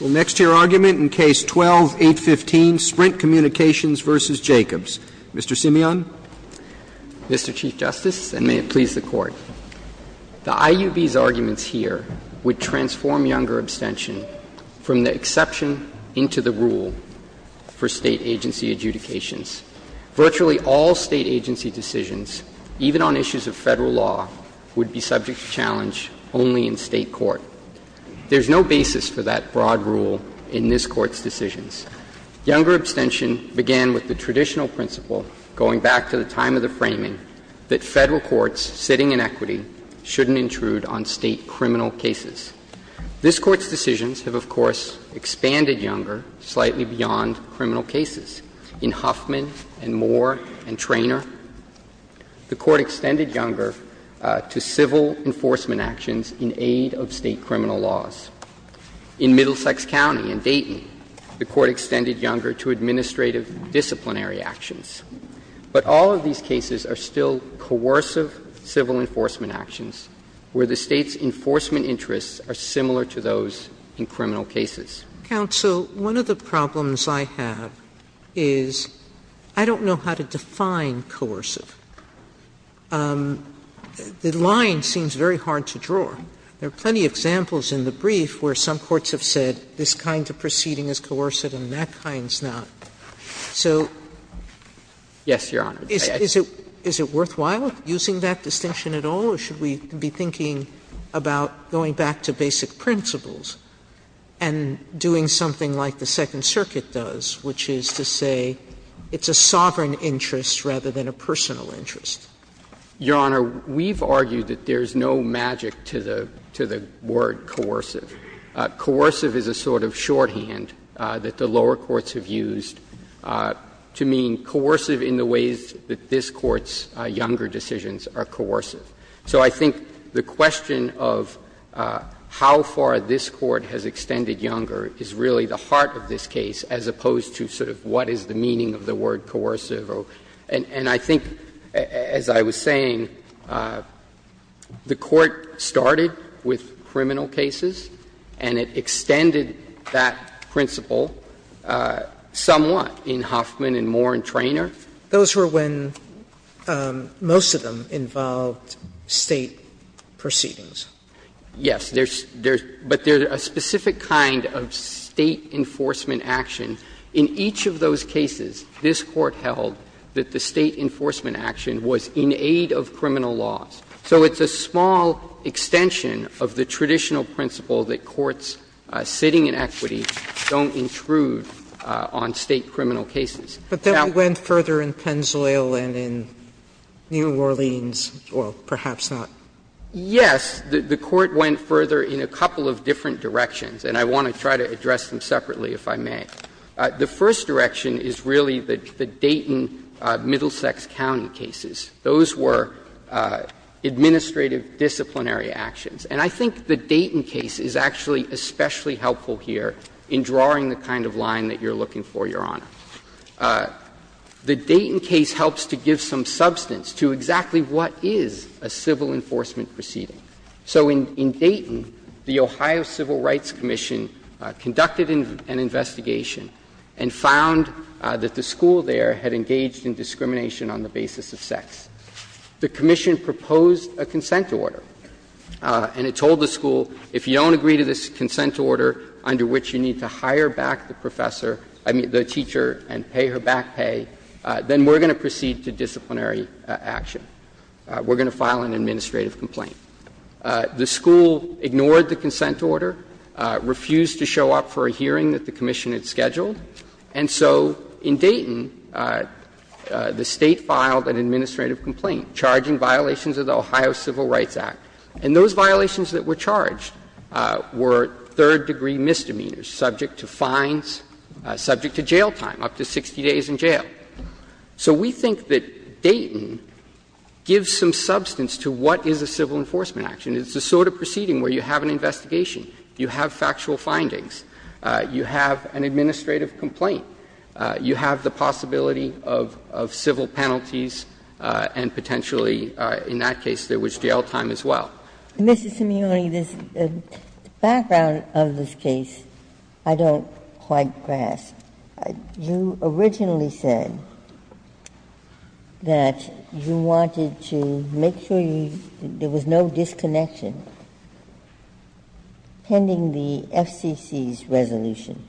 Well, next to your argument in Case 12-815, Sprint Communications, v. Jacobs. Mr. Simeon. Mr. Chief Justice, and may it please the Court. The IUB's arguments here would transform younger abstention from the exception into the rule for State agency adjudications. Virtually all State agency decisions, even on issues of Federal law, would be subject to challenge only in State court. There's no basis for that broad rule in this Court's decisions. Younger abstention began with the traditional principle, going back to the time of the framing, that Federal courts sitting in equity shouldn't intrude on State criminal cases. This Court's decisions have, of course, expanded younger, slightly beyond criminal cases. In Huffman and Moore and Traynor, the Court extended younger to civil enforcement actions in aid of State criminal laws. In Middlesex County and Dayton, the Court extended younger to administrative disciplinary actions. But all of these cases are still coercive civil enforcement actions, where the State's enforcement interests are similar to those in criminal cases. Sotomayor, one of the problems I have is I don't know how to define coercive. The line seems very hard to draw. There are plenty of examples in the brief where some courts have said this kind of proceeding is coercive and that kind is not. So is it worthwhile using that distinction at all, or should we be thinking about going back to basic principles and doing something like the Second Circuit does, which is to say it's a sovereign interest rather than a personal interest? Your Honor, we've argued that there's no magic to the word coercive. Coercive is a sort of shorthand that the lower courts have used to mean coercive in the ways that this Court's younger decisions are coercive. So I think the question of how far this Court has extended younger is really the heart of this case, as opposed to sort of what is the meaning of the word coercive. And I think, as I was saying, the Court started with criminal cases and it extended that principle somewhat in Huffman and Moore and Traynor. Sotomayor, those were when most of them involved State proceedings. Yes, but there's a specific kind of State enforcement action. In each of those cases, this Court held that the State enforcement action was in aid of criminal laws. So it's a small extension of the traditional principle that courts sitting in equity don't intrude on State criminal cases. Sotomayor, but that went further in Pennzoil and in New Orleans, or perhaps not. Yes, the Court went further in a couple of different directions, and I want to try to address them separately, if I may. The first direction is really the Dayton-Middlesex County cases. Those were administrative disciplinary actions. And I think the Dayton case is actually especially helpful here in drawing the kind of line that you're looking for, Your Honor. The Dayton case helps to give some substance to exactly what is a civil enforcement proceeding. So in Dayton, the Ohio Civil Rights Commission conducted an investigation and found that the school there had engaged in discrimination on the basis of sex. The commission proposed a consent order, and it told the school, if you don't agree to this consent order under which you need to hire back the professor, I mean, the teacher, and pay her back pay, then we're going to proceed to disciplinary action. We're going to file an administrative complaint. The school ignored the consent order, refused to show up for a hearing that the commission had scheduled, and so in Dayton, the State filed an administrative complaint charging violations of the Ohio Civil Rights Act. And those violations that were charged were third-degree misdemeanors, subject to fines, subject to jail time, up to 60 days in jail. So we think that Dayton gives some substance to what is a civil enforcement action. It's the sort of proceeding where you have an investigation, you have factual findings, you have an administrative complaint, you have the possibility of civil penalties and potentially, in that case, there was jail time as well. Ginsburg. Mrs. Simione, the background of this case I don't quite grasp. You originally said that you wanted to make sure there was no disconnection pending the FCC's resolution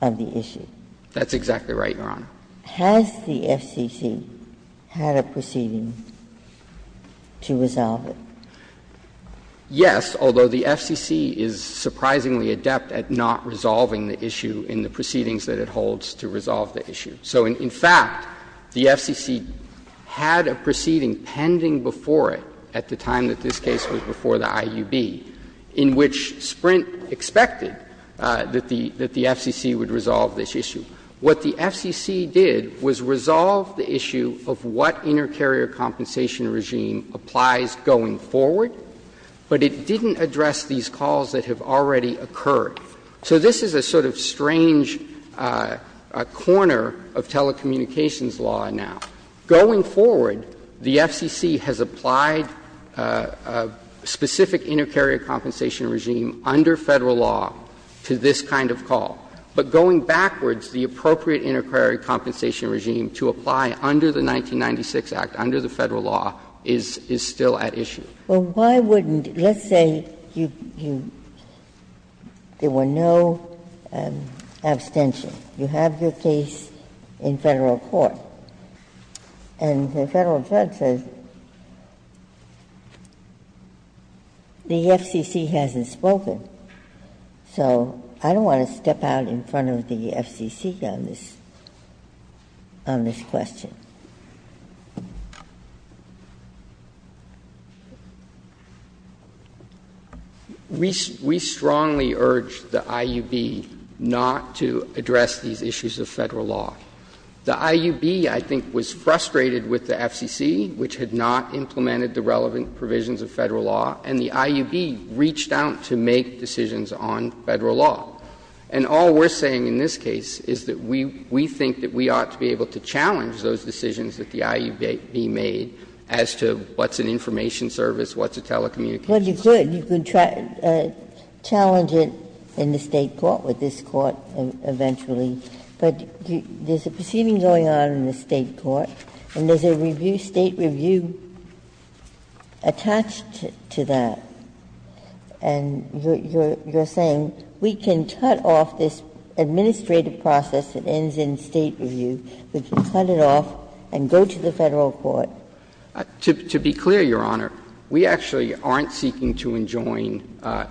of the issue. That's exactly right, Your Honor. Has the FCC had a proceeding to resolve it? Yes, although the FCC is surprisingly adept at not resolving the issue in the proceedings that it holds to resolve the issue. So in fact, the FCC had a proceeding pending before it at the time that this case was before the IUB in which Sprint expected that the FCC would resolve this issue. What the FCC did was resolve the issue of what inter-carrier compensation regime applies going forward, but it didn't address these calls that have already occurred. So this is a sort of strange corner of telecommunications law now. Going forward, the FCC has applied a specific inter-carrier compensation regime under Federal law to this kind of call. But going backwards, the appropriate inter-carrier compensation regime to apply under the 1996 Act, under the Federal law, is still at issue. Well, why wouldn't you say there were no abstentions? You have your case in Federal court, and the Federal judge says the FCC hasn't spoken. So I don't want to step out in front of the FCC on this question. We strongly urge the IUB not to address these issues of Federal law. The IUB, I think, was frustrated with the FCC, which had not implemented the relevant provisions of Federal law, and the IUB reached out to make decisions on Federal law. And all we're saying in this case is that we think that we ought to be able to challenge those decisions that the IUB made as to what's an information service, what's a telecommunications law. Ginsburg. You could challenge it in the State court, with this Court eventually, but there's a proceeding going on in the State court, and there's a review, State review, attempt to do that, and you're saying, we can cut off this administrative process that ends in State review, we can cut it off and go to the Federal court. To be clear, Your Honor, we actually aren't seeking to enjoin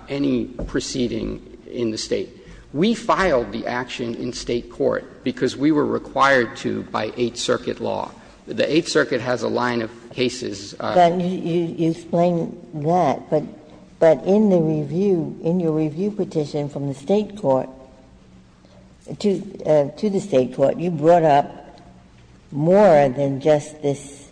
any proceeding in the State. We filed the action in State court because we were required to by Eighth Circuit law. The Eighth Circuit has a line of cases. Ginsburg. You explain that, but in the review, in your review petition from the State court to the State court, you brought up more than just this,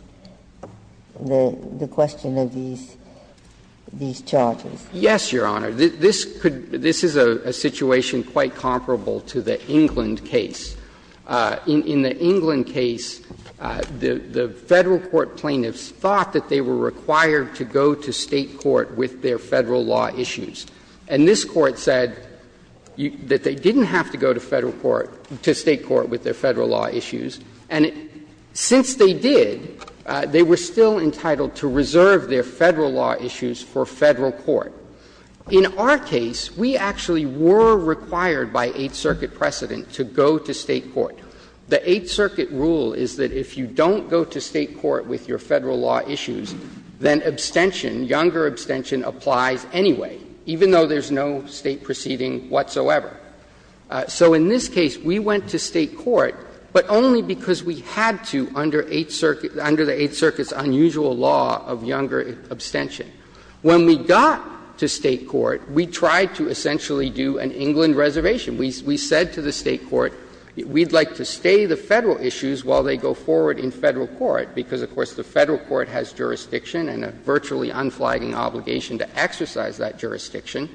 the question of these charges. Yes, Your Honor. This is a situation quite comparable to the England case. In the England case, the Federal court plaintiffs thought that they were required to go to State court with their Federal law issues. And this Court said that they didn't have to go to Federal court to State court with their Federal law issues, and since they did, they were still entitled to reserve their Federal law issues for Federal court. In our case, we actually were required by Eighth Circuit precedent to go to State court. The Eighth Circuit rule is that if you don't go to State court with your Federal law issues, then abstention, younger abstention, applies anyway, even though there's no State proceeding whatsoever. So in this case, we went to State court, but only because we had to under Eighth Circuit, under the Eighth Circuit's unusual law of younger abstention. When we got to State court, we tried to essentially do an England reservation. We said to the State court, we'd like to stay the Federal issues while they go forward in Federal court, because, of course, the Federal court has jurisdiction and a virtually unflagging obligation to exercise that jurisdiction.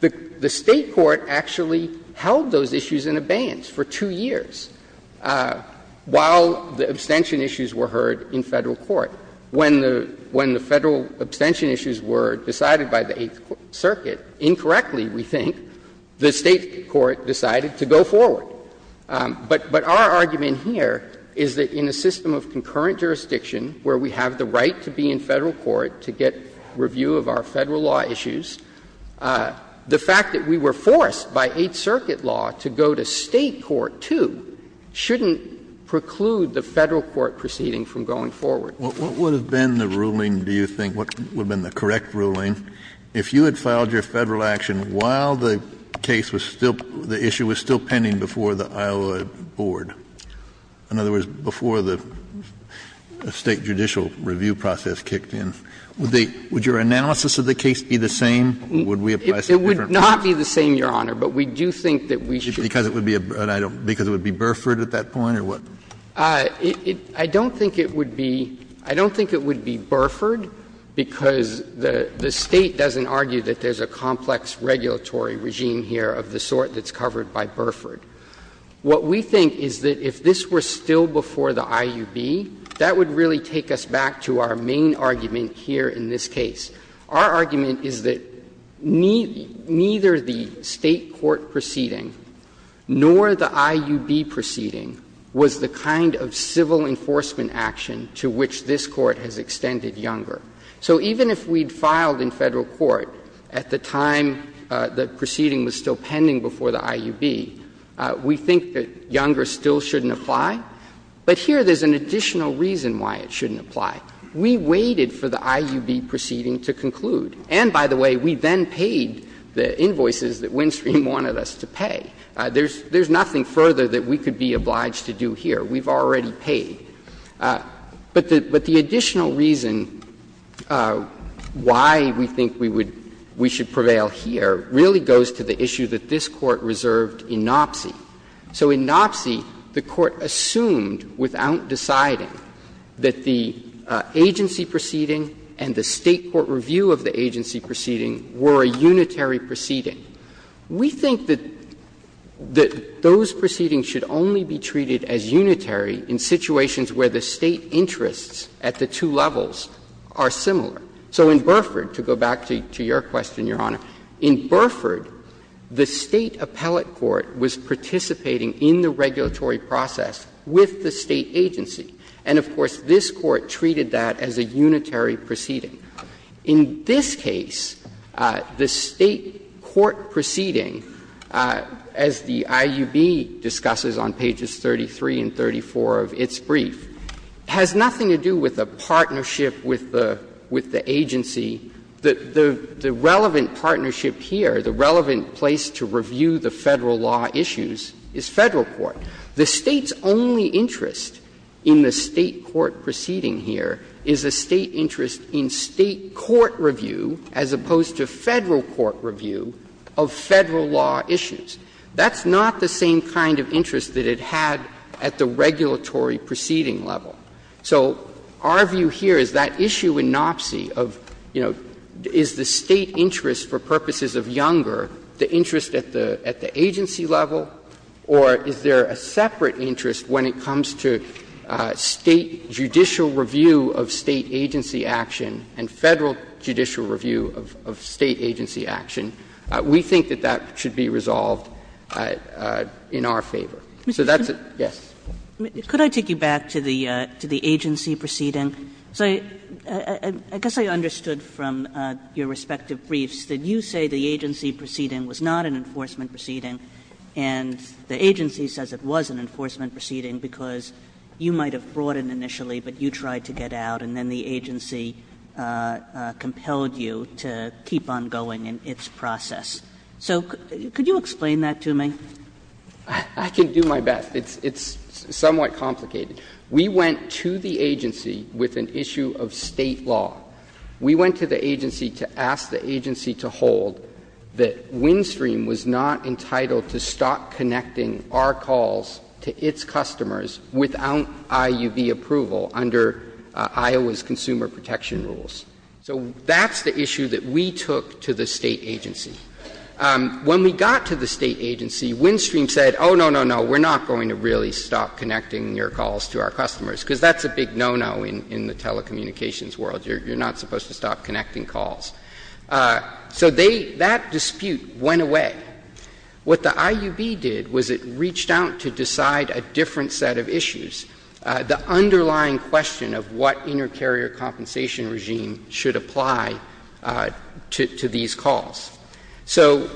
The State court actually held those issues in abeyance for two years while the abstention issues were heard in Federal court. When the Federal abstention issues were decided by the Eighth Circuit, incorrectly, we think, the State court decided to go forward. But our argument here is that in a system of concurrent jurisdiction where we have the right to be in Federal court to get review of our Federal law issues, the fact that we were forced by Eighth Circuit law to go to State court, too, shouldn't preclude the Federal court proceeding from going forward. Kennedy, what would have been the ruling, do you think, what would have been the correct ruling? If you had filed your Federal action while the case was still, the issue was still pending before the Iowa board, in other words, before the State judicial review process kicked in, would they, would your analysis of the case be the same or would we apply some different process? It would not be the same, Your Honor, but we do think that we should. Because it would be a, I don't, because it would be Burford at that point or what? I don't think it would be, I don't think it would be Burford, because the State doesn't argue that there's a complex regulatory regime here of the sort that's covered by Burford. What we think is that if this were still before the IUB, that would really take us back to our main argument here in this case. Our argument is that neither the State court proceeding nor the IUB proceeding was the kind of civil enforcement action to which this Court has extended Younger. So even if we'd filed in Federal court at the time the proceeding was still pending before the IUB, we think that Younger still shouldn't apply. But here there's an additional reason why it shouldn't apply. We waited for the IUB proceeding to conclude. And, by the way, we then paid the invoices that Windstream wanted us to pay. There's nothing further that we could be obliged to do here. We've already paid. But the additional reason why we think we would, we should prevail here really goes to the issue that this Court reserved in Nopce. So in Nopce, the Court assumed without deciding that the agency proceeding and the State court review of the agency proceeding were a unitary proceeding. We think that those proceedings should only be treated as unitary in situations where the State interests at the two levels are similar. So in Burford, to go back to your question, Your Honor, in Burford, the State appellate court was participating in the regulatory process with the State agency. And, of course, this Court treated that as a unitary proceeding. In this case, the State court proceeding, as the IUB discusses on pages 33 and 34 of its brief, has nothing to do with a partnership with the agency. The relevant partnership here, the relevant place to review the Federal law issues, is Federal court. The State's only interest in the State court proceeding here is a State interest in State court review as opposed to Federal court review of Federal law issues. That's not the same kind of interest that it had at the regulatory proceeding level. So our view here is that issue in Nopce of, you know, is the State interest for purposes of Younger the interest at the agency level, or is there a separate interest when it comes to State judicial review of State agency action and Federal judicial review of State agency action? We think that that should be resolved in our favor. So that's a yes. Kagan. Kagan. Kagan. And could I take you back to the agency proceeding? Because I guess I understood from your respective briefs that you say the agency proceeding was not an enforcement proceeding, and the agency says it was an enforcement proceeding because you might have brought it initially, but you tried to get out, and then the agency compelled you to keep on going in its process. So could you explain that to me? I can do my best. It's somewhat complicated. We went to the agency with an issue of State law. We went to the agency to ask the agency to hold that WinStream was not entitled to stop connecting our calls to its customers without I.U.B. approval under Iowa's consumer protection rules. So that's the issue that we took to the State agency. When we got to the State agency, WinStream said, oh, no, no, no, we're not going to really stop connecting your calls to our customers, because that's a big no-no in the telecommunications world. You're not supposed to stop connecting calls. So they — that dispute went away. What the I.U.B. did was it reached out to decide a different set of issues, the underlying question of what inter-carrier compensation regime should apply to these calls. So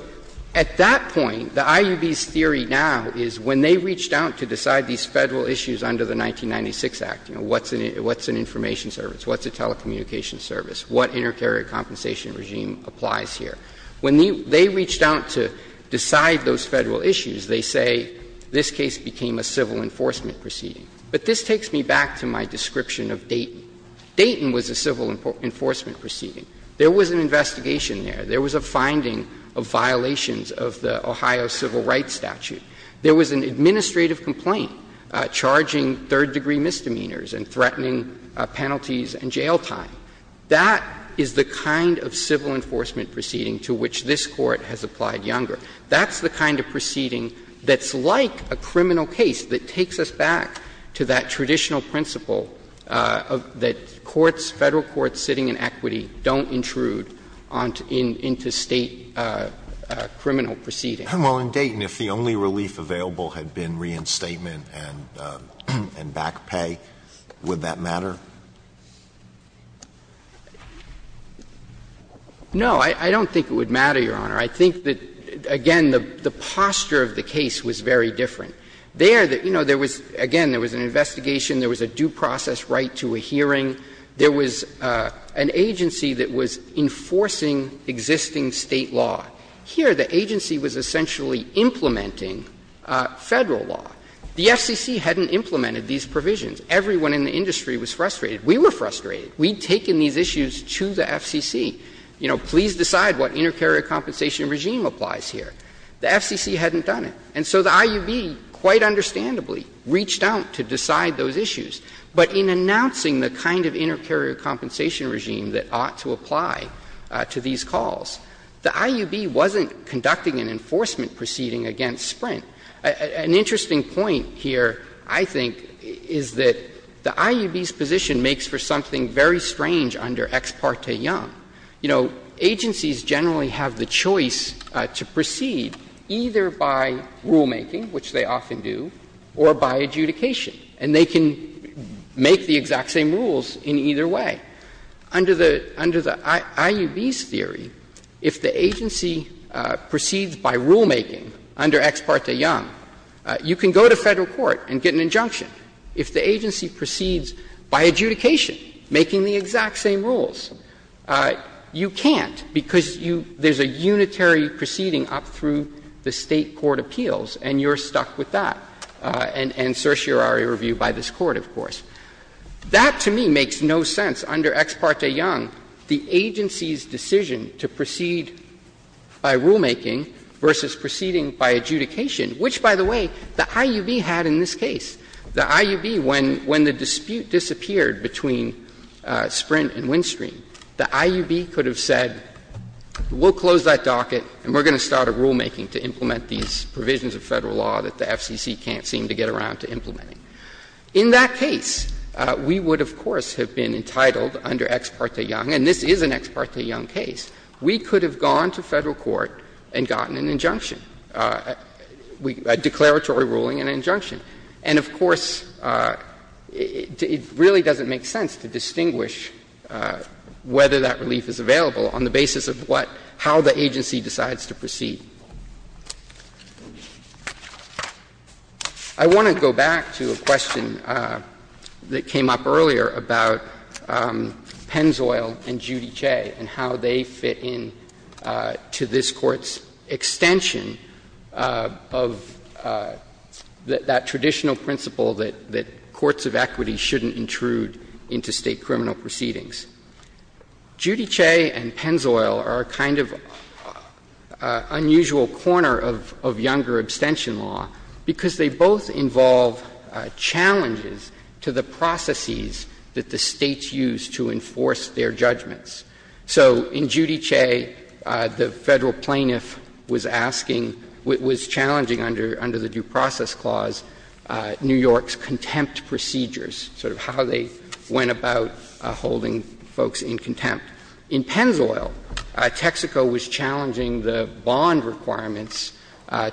at that point, the I.U.B.'s theory now is when they reached out to decide these Federal issues under the 1996 Act, you know, what's an information service, what's a telecommunications service, what inter-carrier compensation regime applies here, when they reached out to decide those Federal issues, they say this case became a civil enforcement proceeding. But this takes me back to my description of Dayton. Dayton was a civil enforcement proceeding. There was an investigation there. There was a finding of violations of the Ohio civil rights statute. There was an administrative complaint charging third-degree misdemeanors and threatening penalties and jail time. That is the kind of civil enforcement proceeding to which this Court has applied younger. That's the kind of proceeding that's like a criminal case that takes us back to that traditional principle that courts, Federal courts sitting in equity, don't intrude into State criminal proceedings. Alitoso, if the only relief available had been reinstatement and back pay, would that matter? No, I don't think it would matter, Your Honor. I think that, again, the posture of the case was very different. There, you know, there was, again, there was an investigation. There was a due process right to a hearing. There was an agency that was enforcing existing State law. Here, the agency was essentially implementing Federal law. The FCC hadn't implemented these provisions. Everyone in the industry was frustrated. We were frustrated. We had taken these issues to the FCC. You know, please decide what inter-carrier compensation regime applies here. The FCC hadn't done it. And so the IUB, quite understandably, reached out to decide those issues. But in announcing the kind of inter-carrier compensation regime that ought to apply to these calls, the IUB wasn't conducting an enforcement proceeding against Sprint. An interesting point here, I think, is that the IUB's position makes for something very strange under Ex parte Young. You know, agencies generally have the choice to proceed either by rulemaking, which they often do, or by adjudication. And they can make the exact same rules in either way. Under the IUB's theory, if the agency proceeds by rulemaking under Ex parte Young, you can go to Federal court and get an injunction. If the agency proceeds by adjudication, making the exact same rules, you can't, because you – there's a unitary proceeding up through the State court appeals, and you're stuck with that, and certiorari review by this Court, of course. That, to me, makes no sense. Under Ex parte Young, the agency's decision to proceed by rulemaking versus proceeding by adjudication, which, by the way, the IUB had in this case. The IUB, when the dispute disappeared between Sprint and Windstream, the IUB could have said, we'll close that docket and we're going to start a rulemaking to implement these provisions of Federal law that the FCC can't seem to get around to implementing. In that case, we would, of course, have been entitled under Ex parte Young, and this is an Ex parte Young case, we could have gone to Federal court and gotten an injunction. A declaratory ruling and an injunction. And, of course, it really doesn't make sense to distinguish whether that relief is available on the basis of what – how the agency decides to proceed. I want to go back to a question that came up earlier about Pennzoil and Judice and how they fit in to this Court's extension of that traditional principle that courts of equity shouldn't intrude into State criminal proceedings. Judice and Pennzoil are a kind of unusual corner of younger abstention law, because they both involve challenges to the processes that the States use to enforce their judgments. So in Judice, the Federal plaintiff was asking – was challenging under the Due Process Clause New York's contempt procedures, sort of how they went about holding folks in contempt. In Pennzoil, Texaco was challenging the bond requirements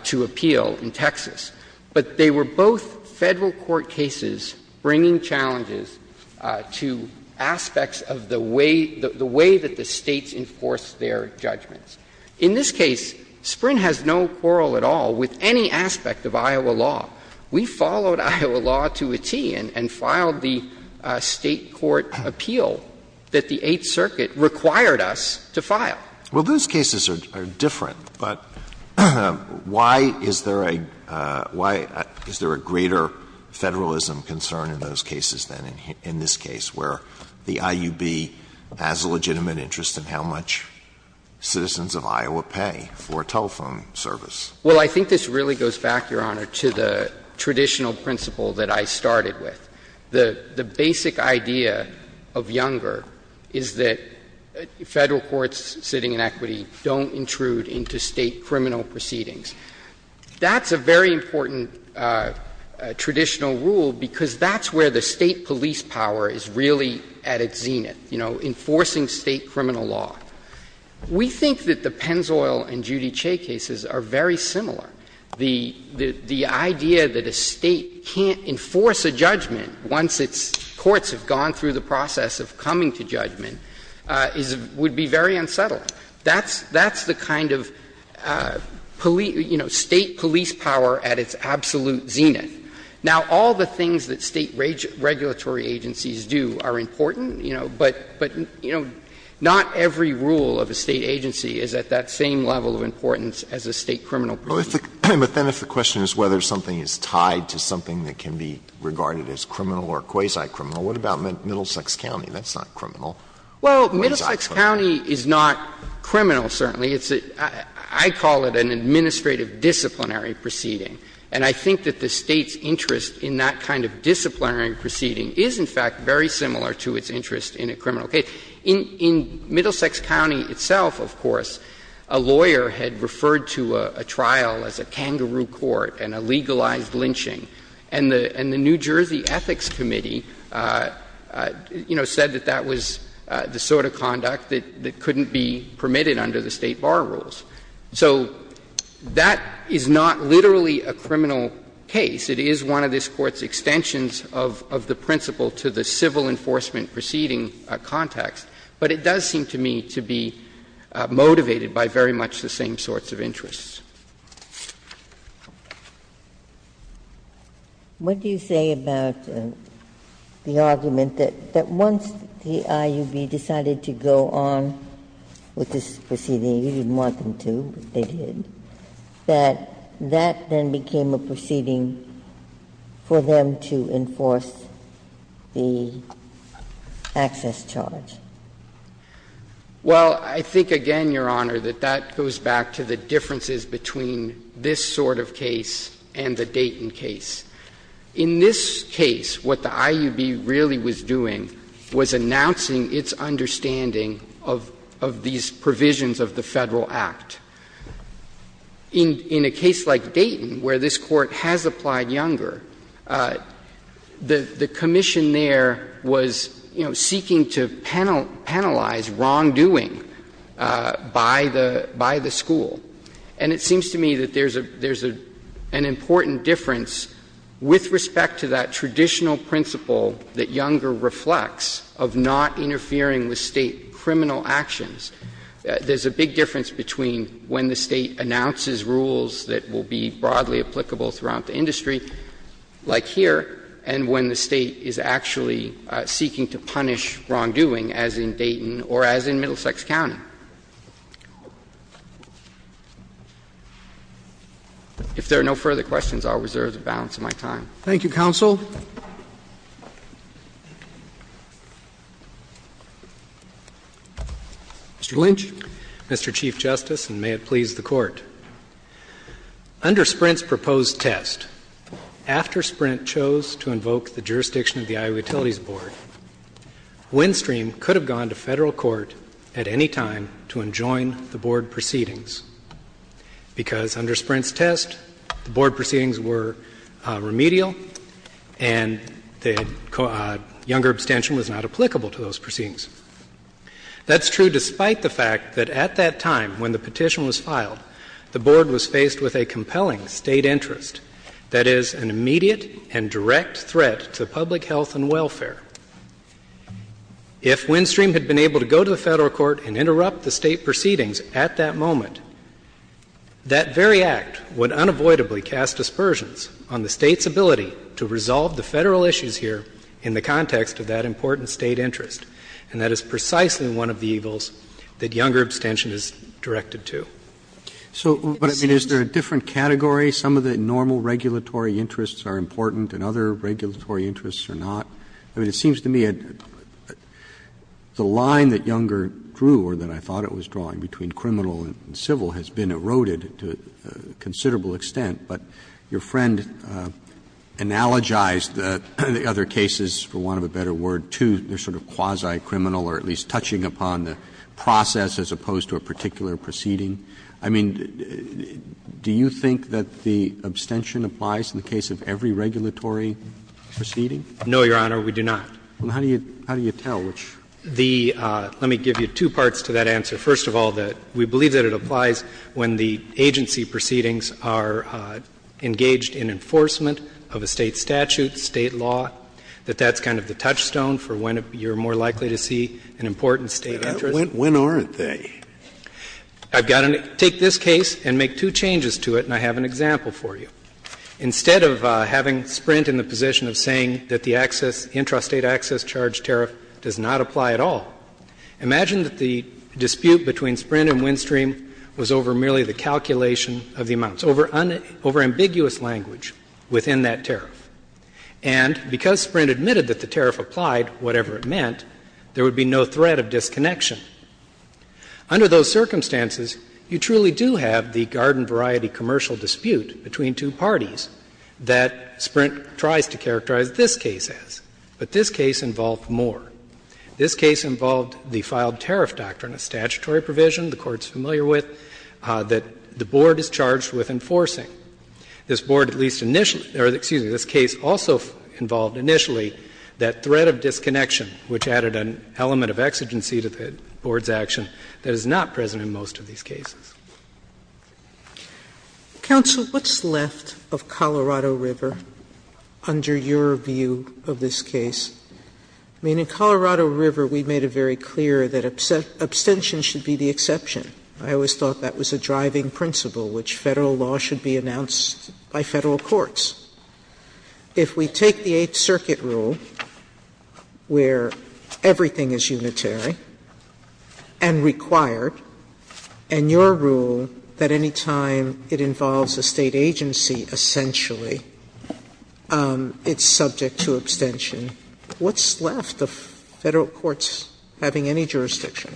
to appeal in Texas. But they were both Federal court cases bringing challenges to aspects of the way – the way that the States enforce their judgments. In this case, Sprint has no quarrel at all with any aspect of Iowa law. We followed Iowa law to a tee and filed the State court appeal that the Eighth Circuit required us to file. Well, those cases are different, but why is there a – why is there a greater Federalism concern in those cases than in this case, where the IUB has a legitimate interest in how much citizens of Iowa pay for telephone service? Well, I think this really goes back, Your Honor, to the traditional principle that I started with. The basic idea of Younger is that Federal courts sitting in equity don't intrude into State criminal proceedings. That's a very important traditional rule because that's where the State police power is really at its zenith, you know, enforcing State criminal law. We think that the Pennzoil and Judice cases are very similar. The idea that a State can't enforce a judgment once its courts have gone through the process of coming to judgment is – would be very unsettling. That's the kind of, you know, State police power at its absolute zenith. Now, all the things that State regulatory agencies do are important, you know, but not every rule of a State agency is at that same level of importance as a State criminal proceeding. Alitoso, but then if the question is whether something is tied to something that can be regarded as criminal or quasi-criminal, what about Middlesex County? That's not criminal. Well, Middlesex County is not criminal, certainly. It's a – I call it an administrative disciplinary proceeding, and I think that the State's interest in that kind of disciplinary proceeding is, in fact, very similar to its interest in a criminal case. In Middlesex County itself, of course, a lawyer had referred to a trial as a kangaroo court and a legalized lynching, and the New Jersey Ethics Committee, you know, said that that was the sort of conduct that couldn't be permitted under the State bar rules. So that is not literally a criminal case. It is one of this Court's extensions of the principle to the civil enforcement proceeding context, but it does seem to me to be motivated by very much the same sorts of interests. Ginsburg. What do you say about the argument that once the IUB decided to go on with this proceeding you didn't want them to, but they did, that that then became a proceeding for them to enforce the access charge? Well, I think, again, Your Honor, that that goes back to the differences between this sort of case and the Dayton case. In this case, what the IUB really was doing was announcing its understanding of these provisions of the Federal Act. In a case like Dayton, where this Court has applied Younger, the commission there was, you know, seeking to penalize wrongdoing by the school. And it seems to me that there's an important difference with respect to that traditional principle that Younger reflects of not interfering with State criminal actions. There's a big difference between when the State announces rules that will be broadly applicable throughout the industry, like here, and when the State is actually seeking to punish wrongdoing, as in Dayton or as in Middlesex County. If there are no further questions, I'll reserve the balance of my time. Thank you, counsel. Mr. Lynch. Mr. Chief Justice, and may it please the Court. Under Sprint's proposed test, after Sprint chose to invoke the jurisdiction of the IOU Utilities Board, Windstream could have gone to Federal court at any time to enjoin the board proceedings, because under Sprint's test, the board proceedings were remedial and the Younger abstention was not applicable to those proceedings. That's true despite the fact that at that time, when the petition was filed, the board was faced with a compelling State interest, that is, an immediate and direct threat to public health and welfare. If Windstream had been able to go to the Federal court and interrupt the State proceedings at that moment, that very act would unavoidably cast aspersions on the State's ability to resolve the Federal issues here in the context of that important State interest. And that is precisely one of the evils that Younger abstention is directed to. Roberts. So, but I mean, is there a different category? Some of the normal regulatory interests are important and other regulatory interests are not? I mean, it seems to me the line that Younger drew, or that I thought it was drawing between criminal and civil, has been eroded to a considerable extent. But your friend analogized the other cases, for want of a better word, to the sort of quasi-criminal or at least touching upon the process as opposed to a particular proceeding. I mean, do you think that the abstention applies in the case of every regulatory proceeding? No, Your Honor, we do not. Well, how do you tell? Let me give you two parts to that answer. First of all, that we believe that it applies when the agency proceedings are engaged in enforcement of a State statute, State law, that that's kind of the touchstone for when you're more likely to see an important State interest. When aren't they? I've got to take this case and make two changes to it, and I have an example for you. Instead of having Sprint in the position of saying that the access, intrastate dispute between Sprint and Windstream was over merely the calculation of the amounts, over ambiguous language within that tariff, and because Sprint admitted that the tariff applied, whatever it meant, there would be no threat of disconnection, under those circumstances, you truly do have the garden variety commercial dispute between two parties that Sprint tries to characterize this case as. But this case involved more. This case involved the filed tariff doctrine, a statutory provision the Court's familiar with that the Board is charged with enforcing. This Board at least initially or, excuse me, this case also involved initially that threat of disconnection, which added an element of exigency to the Board's action that is not present in most of these cases. Sotomayor, what's left of Colorado River under your view of this case? I mean, in Colorado River, we made it very clear that abstention should be the exception. I always thought that was a driving principle, which Federal law should be announced by Federal courts. If we take the Eighth Circuit rule, where everything is unitary and required, and your rule that any time it involves a State agency, essentially, it's subject to abstention, what's left of Federal courts having any jurisdiction?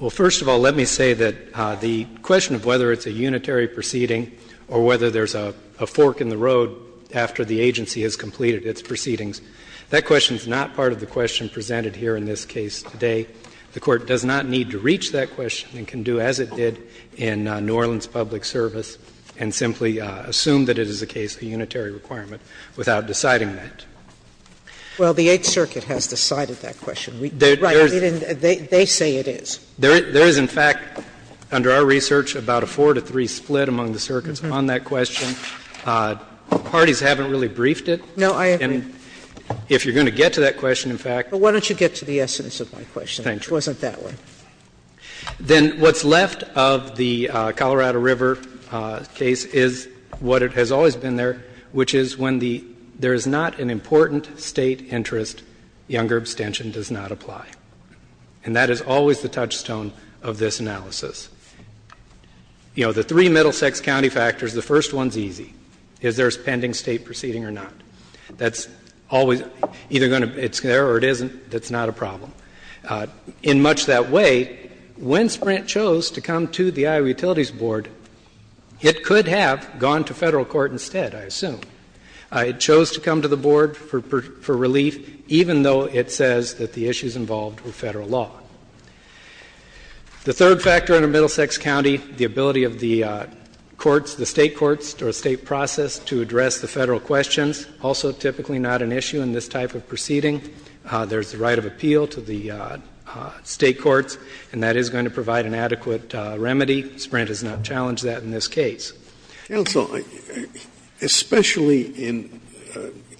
Well, first of all, let me say that the question of whether it's a unitary proceeding or whether there's a fork in the road after the agency has completed its proceedings, that question is not part of the question presented here in this case today. The Court does not need to reach that question and can do as it did in New Orleans Public Service and simply assume that it is a case of unitary requirement without deciding that. Well, the Eighth Circuit has decided that question. Right. They say it is. There is, in fact, under our research, about a four-to-three split among the circuits on that question. Parties haven't really briefed it. No, I agree. And if you're going to get to that question, in fact Why don't you get to the essence of my question, which wasn't that one. Then what's left of the Colorado River case is what has always been there, which is when there is not an important State interest, younger abstention does not apply. And that is always the touchstone of this analysis. You know, the three Middlesex County factors, the first one is easy. Is there a pending State proceeding or not? That's always either going to be there or it isn't. That's not a problem. In much that way, when Sprint chose to come to the Iowa Utilities Board, it could have gone to Federal court instead, I assume. It chose to come to the Board for relief, even though it says that the issues involved were Federal law. The third factor under Middlesex County, the ability of the courts, the State courts or State process to address the Federal questions, also typically not an issue in this type of proceeding. There is the right of appeal to the State courts, and that is going to provide an adequate remedy. Sprint has not challenged that in this case. Scalia. Especially in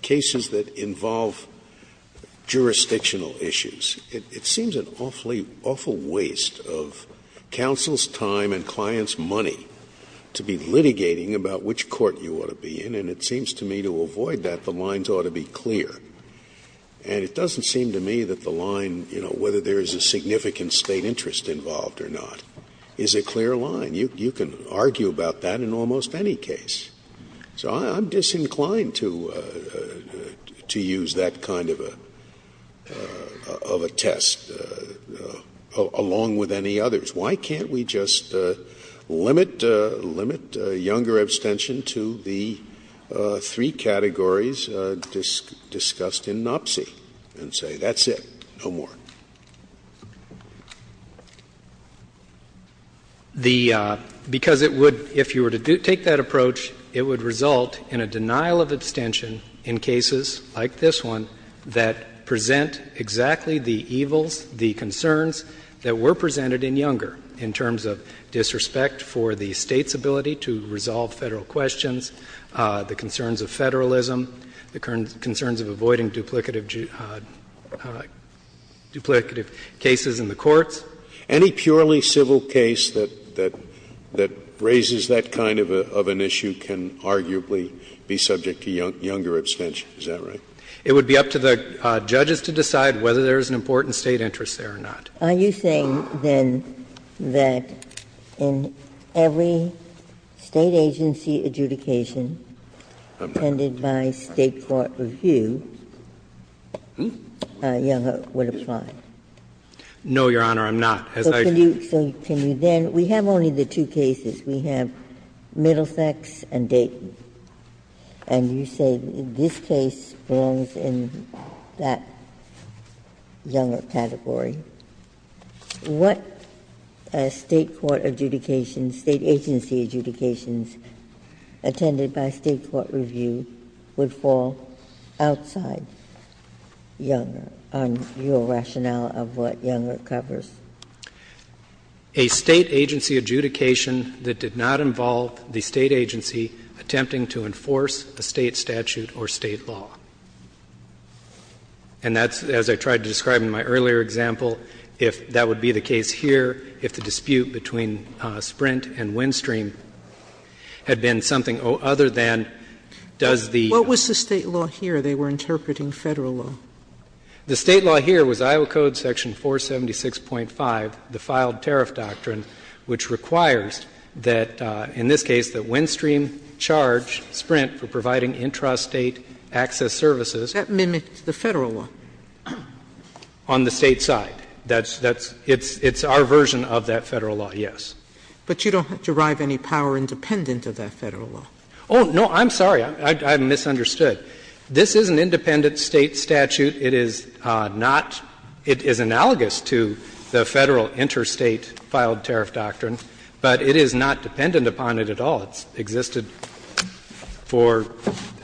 cases that involve jurisdictional issues, it seems an awful waste of counsel's time and client's money to be litigating about which court you ought to be in. And it seems to me to avoid that, the lines ought to be clear. And it doesn't seem to me that the line, you know, whether there is a significant State interest involved or not, is a clear line. You can argue about that in almost any case. So I'm disinclined to use that kind of a test, along with any others. Why can't we just limit younger abstention to the three categories discussed in NOPC and say, that's it, no more? Because it would, if you were to take that approach, it would result in a denial of abstention in cases like this one that present exactly the evils, the concerns that were presented in Younger, in terms of disrespect for the State's ability to resolve Federal questions, the concerns of Federalism, the concerns of avoiding duplicative cases in the courts. Any purely civil case that raises that kind of an issue can arguably be subject to Younger abstention, is that right? It would be up to the judges to decide whether there is an important State interest there or not. Are you saying, then, that in every State agency adjudication appended by State court review, Younger would apply? No, Your Honor, I'm not. As I said, we have only the two cases, we have Middlesex and Dayton, and you say this case belongs in that Younger category. What State court adjudication, State agency adjudications attended by State court review would fall outside Younger on your rationale of what Younger covers? A State agency adjudication that did not involve the State agency attempting to enforce a State statute or State law. And that's, as I tried to describe in my earlier example, if that would be the case here, if the dispute between Sprint and Windstream had been something other than does the ---- What was the State law here? They were interpreting Federal law. The State law here was Iowa Code section 476.5, the filed tariff doctrine, which requires that, in this case, that Windstream charge Sprint for providing intrastate access services. That mimics the Federal law. On the State side. That's the ---- it's our version of that Federal law, yes. But you don't derive any power independent of that Federal law. Oh, no, I'm sorry. I misunderstood. This is an independent State statute. It is not ---- it is analogous to the Federal interstate filed tariff doctrine. But it is not dependent upon it at all. It's existed for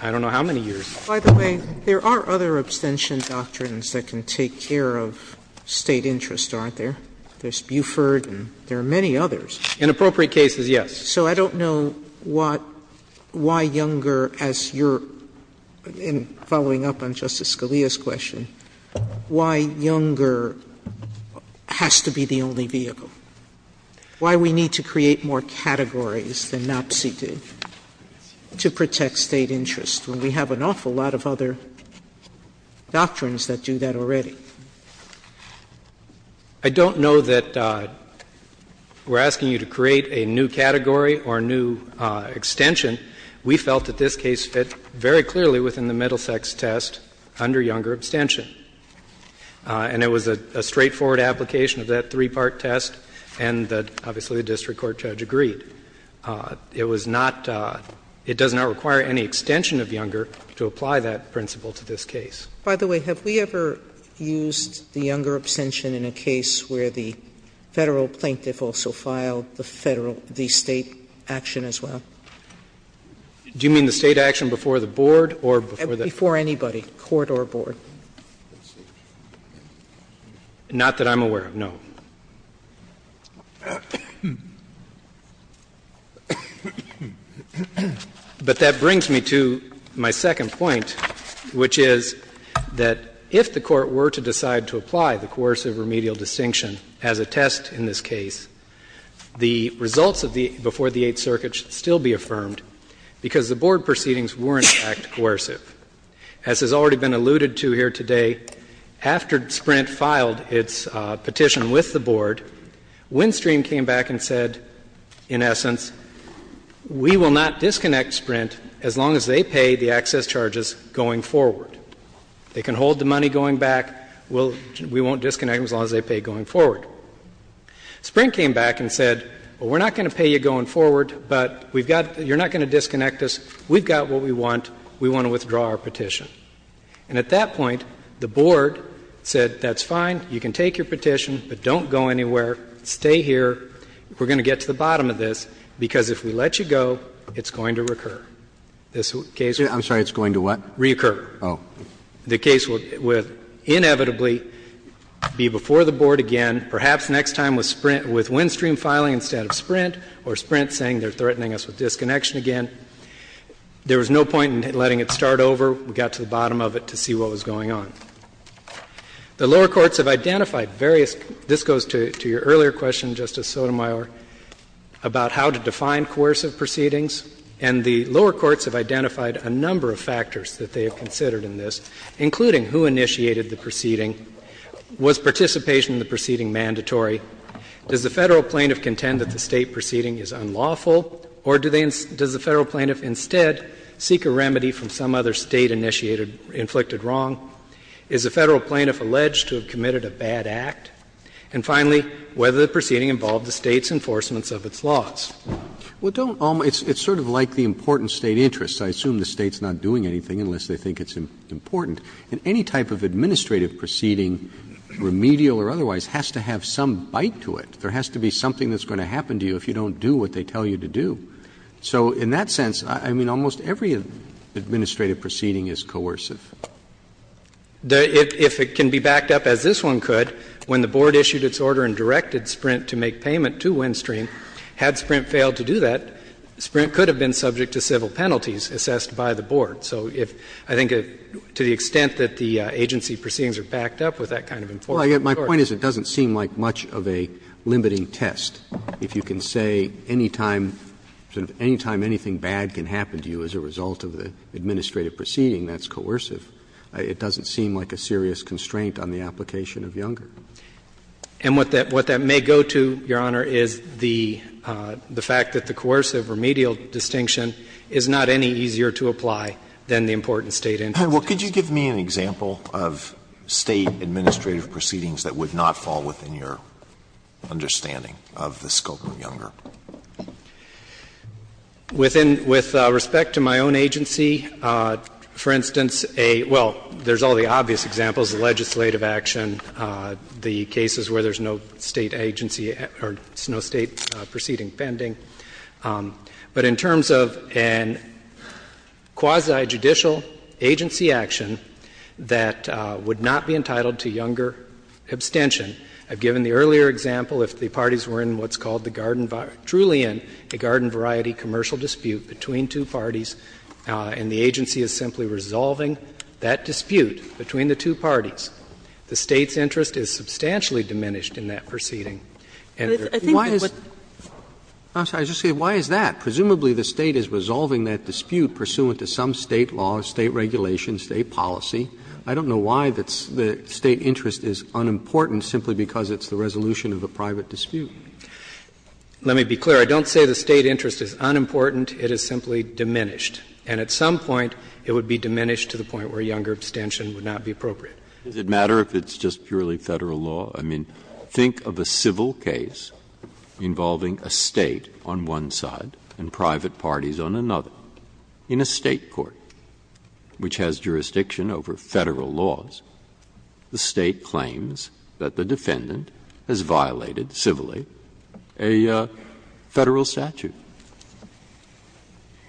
I don't know how many years. Sotomayor, there are other abstention doctrines that can take care of State interests, aren't there? There's Buford and there are many others. Inappropriate cases, yes. So I don't know what why Younger, as you're following up on Justice Scalia's question, why Younger has to be the only vehicle? Why we need to create more categories than NAPCI did to protect State interests when we have an awful lot of other doctrines that do that already? I don't know that we're asking you to create a new category or a new extension. We felt that this case fit very clearly within the Middlesex test under Younger abstention. And it was a straightforward application of that three-part test and obviously the district court judge agreed. It was not ---- it does not require any extension of Younger to apply that principle to this case. Sotomayor, have we ever used the Younger abstention in a case where the Federal plaintiff also filed the Federal ---- the State action as well? Do you mean the State action before the board or before the court? Before anybody, court or board. Not that I'm aware of, no. But that brings me to my second point, which is that if the Court were to decide to apply the coercive remedial distinction as a test in this case, the results of the ---- before the Eighth Circuit should still be affirmed because the board The Robert Swenson petition that I just alluded to here today, after Sprint filed it's petition with the board, Windstream came back and said, in essence, we will not disconnect Sprint as long as they pay the access charges going forward. They can hold the money going back, we won't disconnect them as long as they pay going forward. Sprint came back and said, we're not going to pay you going forward, but you're not going to disconnect us, we've got what we want, we want to withdraw our petition. And at that point, the board said, that's fine, you can take your petition, but don't go anywhere, stay here, we're going to get to the bottom of this, because if we let you go, it's going to recur. This case will go. Roberts. I'm sorry, it's going to what? Reoccur. Oh. The case will inevitably be before the board again, perhaps next time with Sprint — with Windstream filing instead of Sprint, or Sprint saying they're threatening us with disconnection again. There was no point in letting it start over. We got to the bottom of it to see what was going on. The lower courts have identified various — this goes to your earlier question, Justice Sotomayor, about how to define coercive proceedings. And the lower courts have identified a number of factors that they have considered in this, including who initiated the proceeding, was participation in the proceeding mandatory, does the Federal plaintiff contend that the State proceeding is unlawful, or does the Federal plaintiff instead seek a remedy from some other State-initiated — inflicted wrong? Is the Federal plaintiff alleged to have committed a bad act? And finally, whether the proceeding involved the State's enforcements of its laws. Roberts. Well, don't all — it's sort of like the important State interests. I assume the State's not doing anything unless they think it's important. And any type of administrative proceeding, remedial or otherwise, has to have some bite to it. There has to be something that's going to happen to you if you don't do what they tell you to do. So in that sense, I mean, almost every administrative proceeding is coercive. If it can be backed up, as this one could, when the Board issued its order and directed Sprint to make payment to Windstream, had Sprint failed to do that, Sprint could have been subject to civil penalties assessed by the Board. So if — I think to the extent that the agency proceedings are backed up with that kind of enforcement, of course. Well, my point is it doesn't seem like much of a limiting test. If you can say any time — sort of any time anything bad can happen to you as a result of the administrative proceeding that's coercive, it doesn't seem like a serious constraint on the application of Younger. And what that — what that may go to, Your Honor, is the fact that the coercive remedial distinction is not any easier to apply than the important State interests. Well, could you give me an example of State administrative proceedings that would not fall within your understanding of the scope of Younger? With respect to my own agency, for instance, a — well, there's all the obvious examples, the legislative action, the cases where there's no State agency or no State proceeding pending. But in terms of a quasi-judicial agency action that would not be entitled to Younger abstention, I've given the earlier example, if the parties were in what's called the garden — truly in a garden variety commercial dispute between two parties and the agency is simply resolving that dispute between the two parties, the State's interest is substantially diminished in that proceeding. And there — Why is — I'm sorry, I was just going to say, why is that? Presumably the State is resolving that dispute pursuant to some State law, State regulation, State policy. I don't know why the State interest is unimportant simply because it's the resolution of a private dispute. Let me be clear. I don't say the State interest is unimportant. It is simply diminished. And at some point, it would be diminished to the point where Younger abstention would not be appropriate. Does it matter if it's just purely Federal law? I mean, think of a civil case involving a State on one side and private parties on another. In a State court, which has jurisdiction over Federal laws, the State claims that the defendant has violated, civilly, a Federal statute.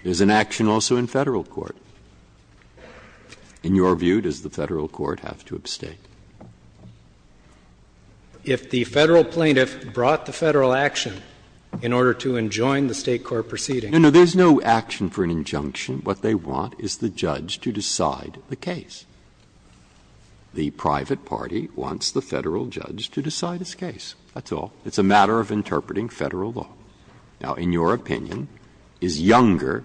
There's an action also in Federal court. In your view, does the Federal court have to abstain? If the Federal plaintiff brought the Federal action in order to enjoin the State court proceeding. No, no, there's no action for an injunction. What they want is the judge to decide the case. The private party wants the Federal judge to decide his case. That's all. It's a matter of interpreting Federal law. Now, in your opinion, is Younger,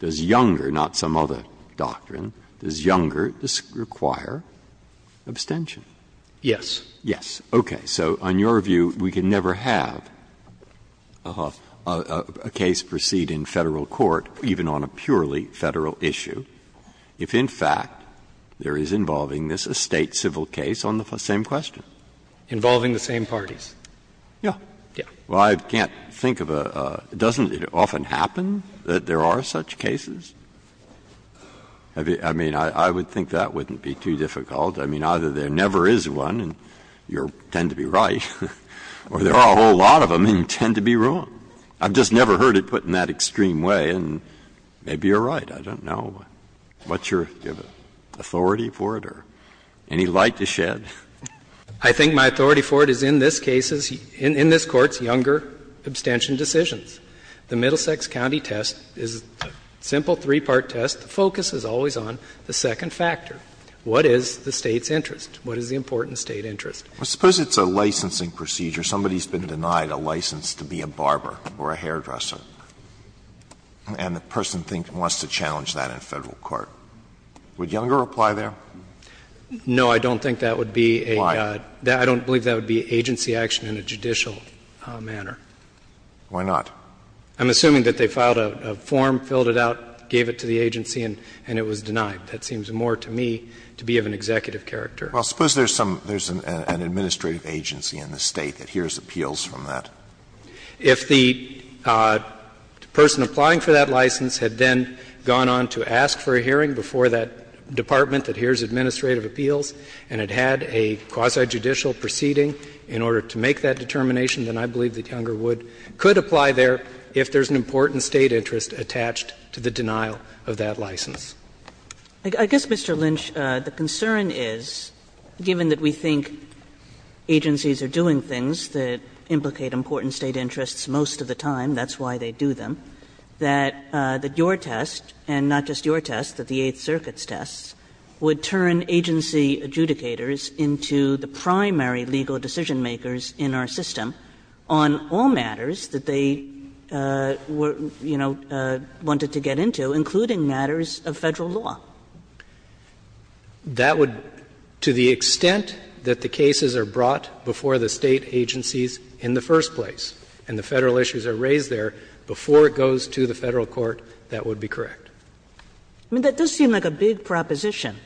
does Younger, not some other doctrine, does Younger require abstention? Yes. Yes. Okay. So on your view, we can never have a case proceed in Federal court, even on a purely Federal issue, if, in fact, there is involving this a State civil case on the same question. Involving the same parties. Yeah. Yeah. Well, I can't think of a – doesn't it often happen that there are such cases? I mean, I would think that wouldn't be too difficult. I mean, either there never is one and you tend to be right, or there are a whole lot of them and you tend to be wrong. I've just never heard it put in that extreme way, and maybe you're right. I don't know what your authority for it or any light you shed. I think my authority for it is in this case's – in this Court's Younger abstention decisions. The Middlesex County test is a simple three-part test. The focus is always on the second factor. What is the State's interest? What is the important State interest? Well, suppose it's a licensing procedure. Somebody's been denied a license to be a barber or a hairdresser, and the person thinks – wants to challenge that in Federal court. Would Younger apply there? No, I don't think that would be a – Why? I don't believe that would be agency action in a judicial manner. Why not? I'm assuming that they filed a form, filled it out, gave it to the agency, and it was denied. That seems more to me to be of an executive character. Well, suppose there's some – there's an administrative agency in the State that hears appeals from that. If the person applying for that license had then gone on to ask for a hearing before that department that hears administrative appeals and had had a quasi-judicial proceeding in order to make that determination, then I believe that Younger would – could apply there if there's an important State interest attached to the denial of that license. I guess, Mr. Lynch, the concern is, given that we think agencies are doing things that implicate important State interests most of the time, that's why they do them, that your test, and not just your test, but the Eighth Circuit's test, would turn agency adjudicators into the primary legal decision-makers in our system on all matters that they were, you know, wanted to get into, including matters of Federal law. That would – to the extent that the cases are brought before the State agencies in the first place and the Federal issues are raised there before it goes to the Federal court, that would be correct. I mean, that does seem like a big proposition.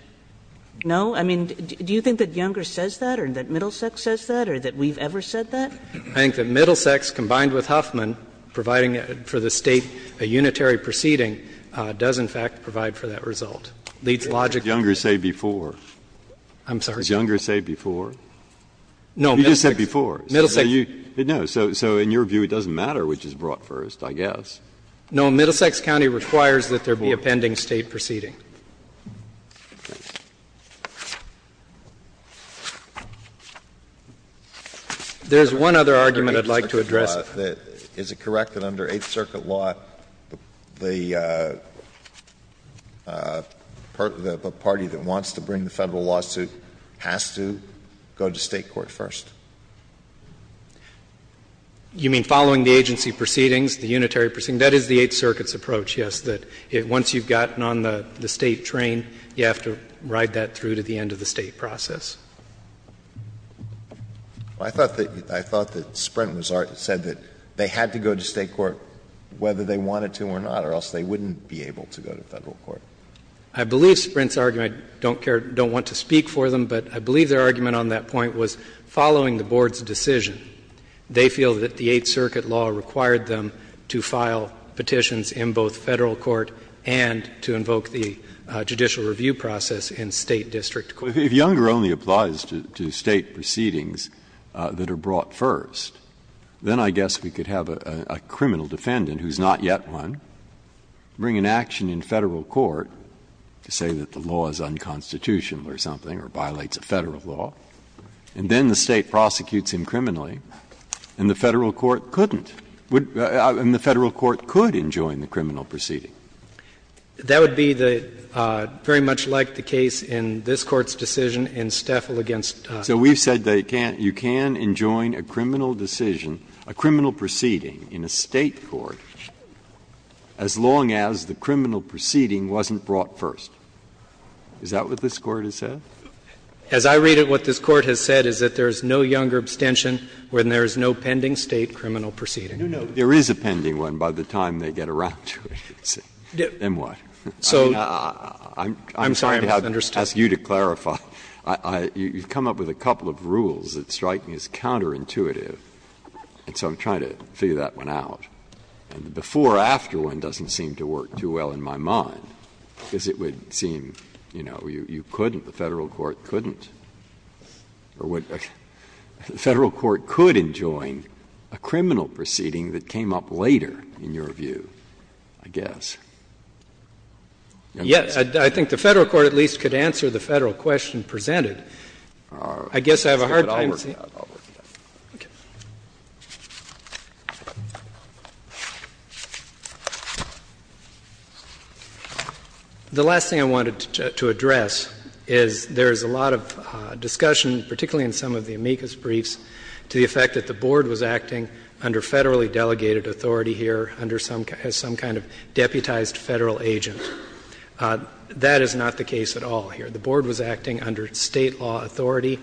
No? I mean, do you think that Younger says that or that Middlesex says that or that we've ever said that? I think that Middlesex, combined with Huffman, providing for the State a unitary proceeding, does, in fact, provide for that result. It leads logically to that. Did Younger say before? I'm sorry? Did Younger say before? No. He just said before. Middlesex. No. So in your view, it doesn't matter which is brought first, I guess. No. Middlesex County requires that there be a pending State proceeding. There is one other argument I'd like to address. Is it correct that under Eighth Circuit law, the party that wants to bring the Federal lawsuit has to go to State court first? You mean following the agency proceedings, the unitary proceedings? That is the Eighth Circuit's approach, yes. That once you've gotten on the State train, you have to ride that through to the end of the State process. I thought that Sprint said that they had to go to State court whether they wanted to or not, or else they wouldn't be able to go to Federal court. I believe Sprint's argument, I don't care, don't want to speak for them, but I believe their argument on that point was following the board's decision. They feel that the Eighth Circuit law required them to file petitions in both Federal court and to invoke the judicial review process in State district court. Breyer, if Younger only applies to State proceedings that are brought first, then I guess we could have a criminal defendant who is not yet one bring an action in Federal court to say that the law is unconstitutional or something or violates a Federal law. And then the State prosecutes him criminally, and the Federal court couldn't – and the Federal court could enjoin the criminal proceeding. That would be the – very much like the case in this Court's decision in Steffel v. Younger. So we've said that you can't – you can enjoin a criminal decision, a criminal proceeding in a State court as long as the criminal proceeding wasn't brought first. Is that what this Court has said? As I read it, what this Court has said is that there is no Younger abstention when there is no pending State criminal proceeding. Breyer, there is a pending one by the time they get around to it. And what? So I'm sorry I have to ask you to clarify. You've come up with a couple of rules that strike me as counterintuitive, and so I'm trying to figure that one out. And the before-after one doesn't seem to work too well in my mind, because it would seem, you know, you couldn't – the Federal court couldn't – or what – the Federal court could enjoin a criminal proceeding that came up later, in your view, I guess. Yes. I think the Federal court at least could answer the Federal question presented. I guess I have a hard time seeing – I'll work it out. I'll work it out. Okay. The last thing I wanted to address is there is a lot of discussion, particularly in some of the amicus briefs, to the effect that the Board was acting under Federally delegated authority here under some kind of deputized Federal agent. That is not the case at all here. The Board was acting under State law authority.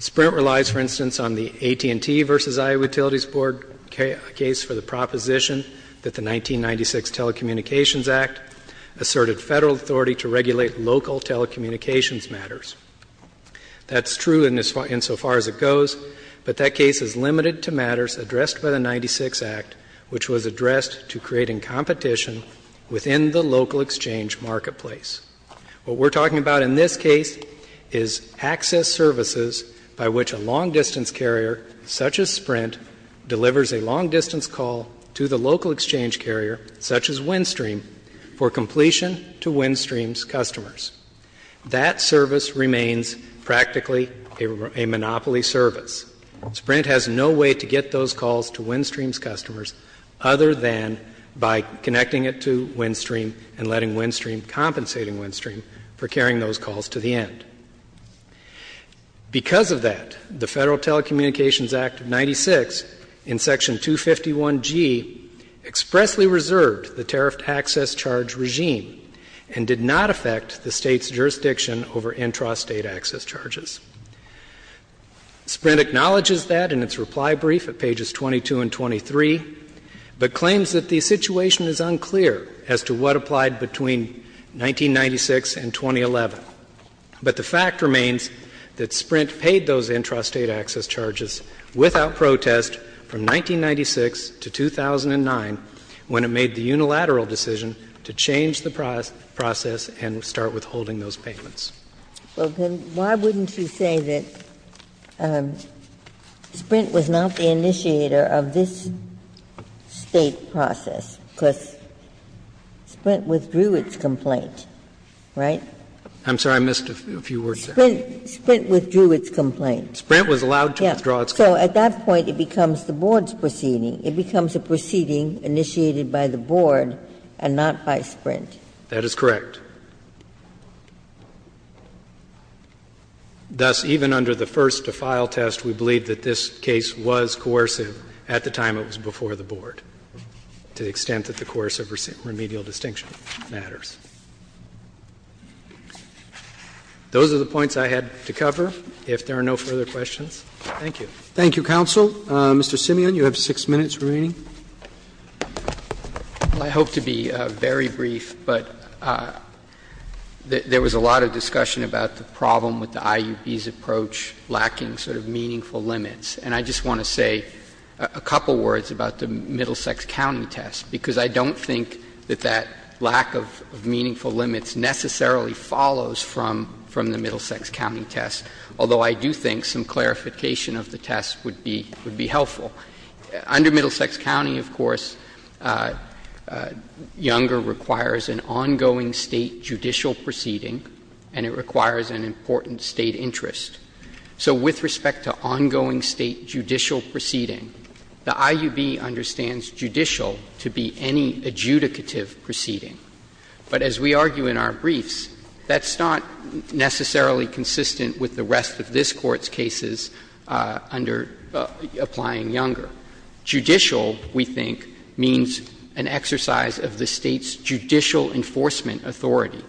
Sprint relies, for instance, on the AT&T v. Iowa Utilities Board case for the proposition that the 1996 Telecommunications Act asserted Federal authority to regulate local telecommunications matters. That's true insofar as it goes, but that case is limited to matters addressed by the 1996 Act, which was addressed to creating competition within the local exchange marketplace. What we're talking about in this case is access services by which a long-distance carrier such as Sprint delivers a long-distance call to the local exchange carrier such as WinStream for completion to WinStream's customers. That service remains practically a monopoly service. Sprint has no way to get those calls to WinStream's customers other than by connecting it to WinStream and letting WinStream compensate WinStream for carrying those calls to the end. Because of that, the Federal Telecommunications Act of 1996 in section 251G expressly reserved the tariffed access charge regime and did not affect the State's jurisdiction over intrastate access charges. Sprint acknowledges that in its reply brief at pages 22 and 23, but claims that the situation is unclear as to what applied between 1996 and 2011. But the fact remains that Sprint paid those intrastate access charges without protest from 1996 to 2009 when it made the unilateral decision to change the process and start withholding those payments. Ginsburg. Well, then why wouldn't you say that Sprint was not the initiator of this State process? Because Sprint withdrew its complaint, right? I'm sorry. I missed a few words there. Sprint withdrew its complaint. Sprint was allowed to withdraw its complaint. So at that point, it becomes the Board's proceeding. It becomes a proceeding initiated by the Board and not by Sprint. That is correct. Thus, even under the first-to-file test, we believe that this case was coercive at the time it was before the Board. To the extent that the coercive remedial distinction matters. Those are the points I had to cover. If there are no further questions, thank you. Thank you, counsel. Mr. Simeon, you have 6 minutes remaining. I hope to be very brief, but there was a lot of discussion about the problem with the IUB's approach lacking sort of meaningful limits. And I just want to say a couple words about the Middlesex County test, because I don't think that that lack of meaningful limits necessarily follows from the Middlesex County test. Although I do think some clarification of the test would be helpful. Under Middlesex County, of course, younger requires an ongoing state judicial proceeding. And it requires an important state interest. So with respect to ongoing state judicial proceeding, the IUB understands judicial to be any adjudicative proceeding. But as we argue in our briefs, that's not necessarily consistent with the rest of this Court's cases under applying younger. Judicial, we think, means an exercise of the State's judicial enforcement authority.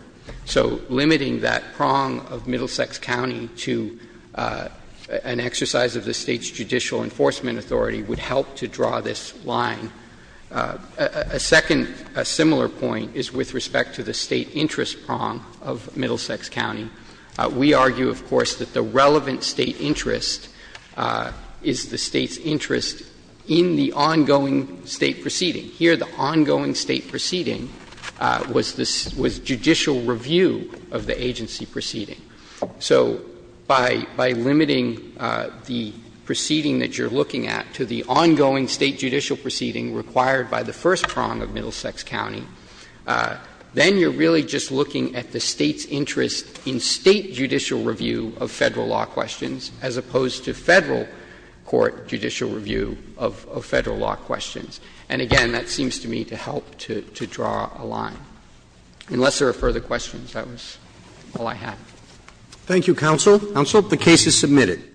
So limiting that prong of Middlesex County to an exercise of the State's judicial enforcement authority would help to draw this line. A second similar point is with respect to the state interest prong of Middlesex County. We argue, of course, that the relevant State interest is the State's interest in the ongoing State proceeding. Here, the ongoing State proceeding was judicial review of the agency proceeding. So by limiting the proceeding that you're looking at to the ongoing State judicial proceeding required by the first prong of Middlesex County, then you're really just looking at the State's interest in State judicial review of Federal law questions as opposed to Federal court judicial review of Federal law questions. And again, that seems to me to help to draw a line. Unless there are further questions, that was all I had. Roberts.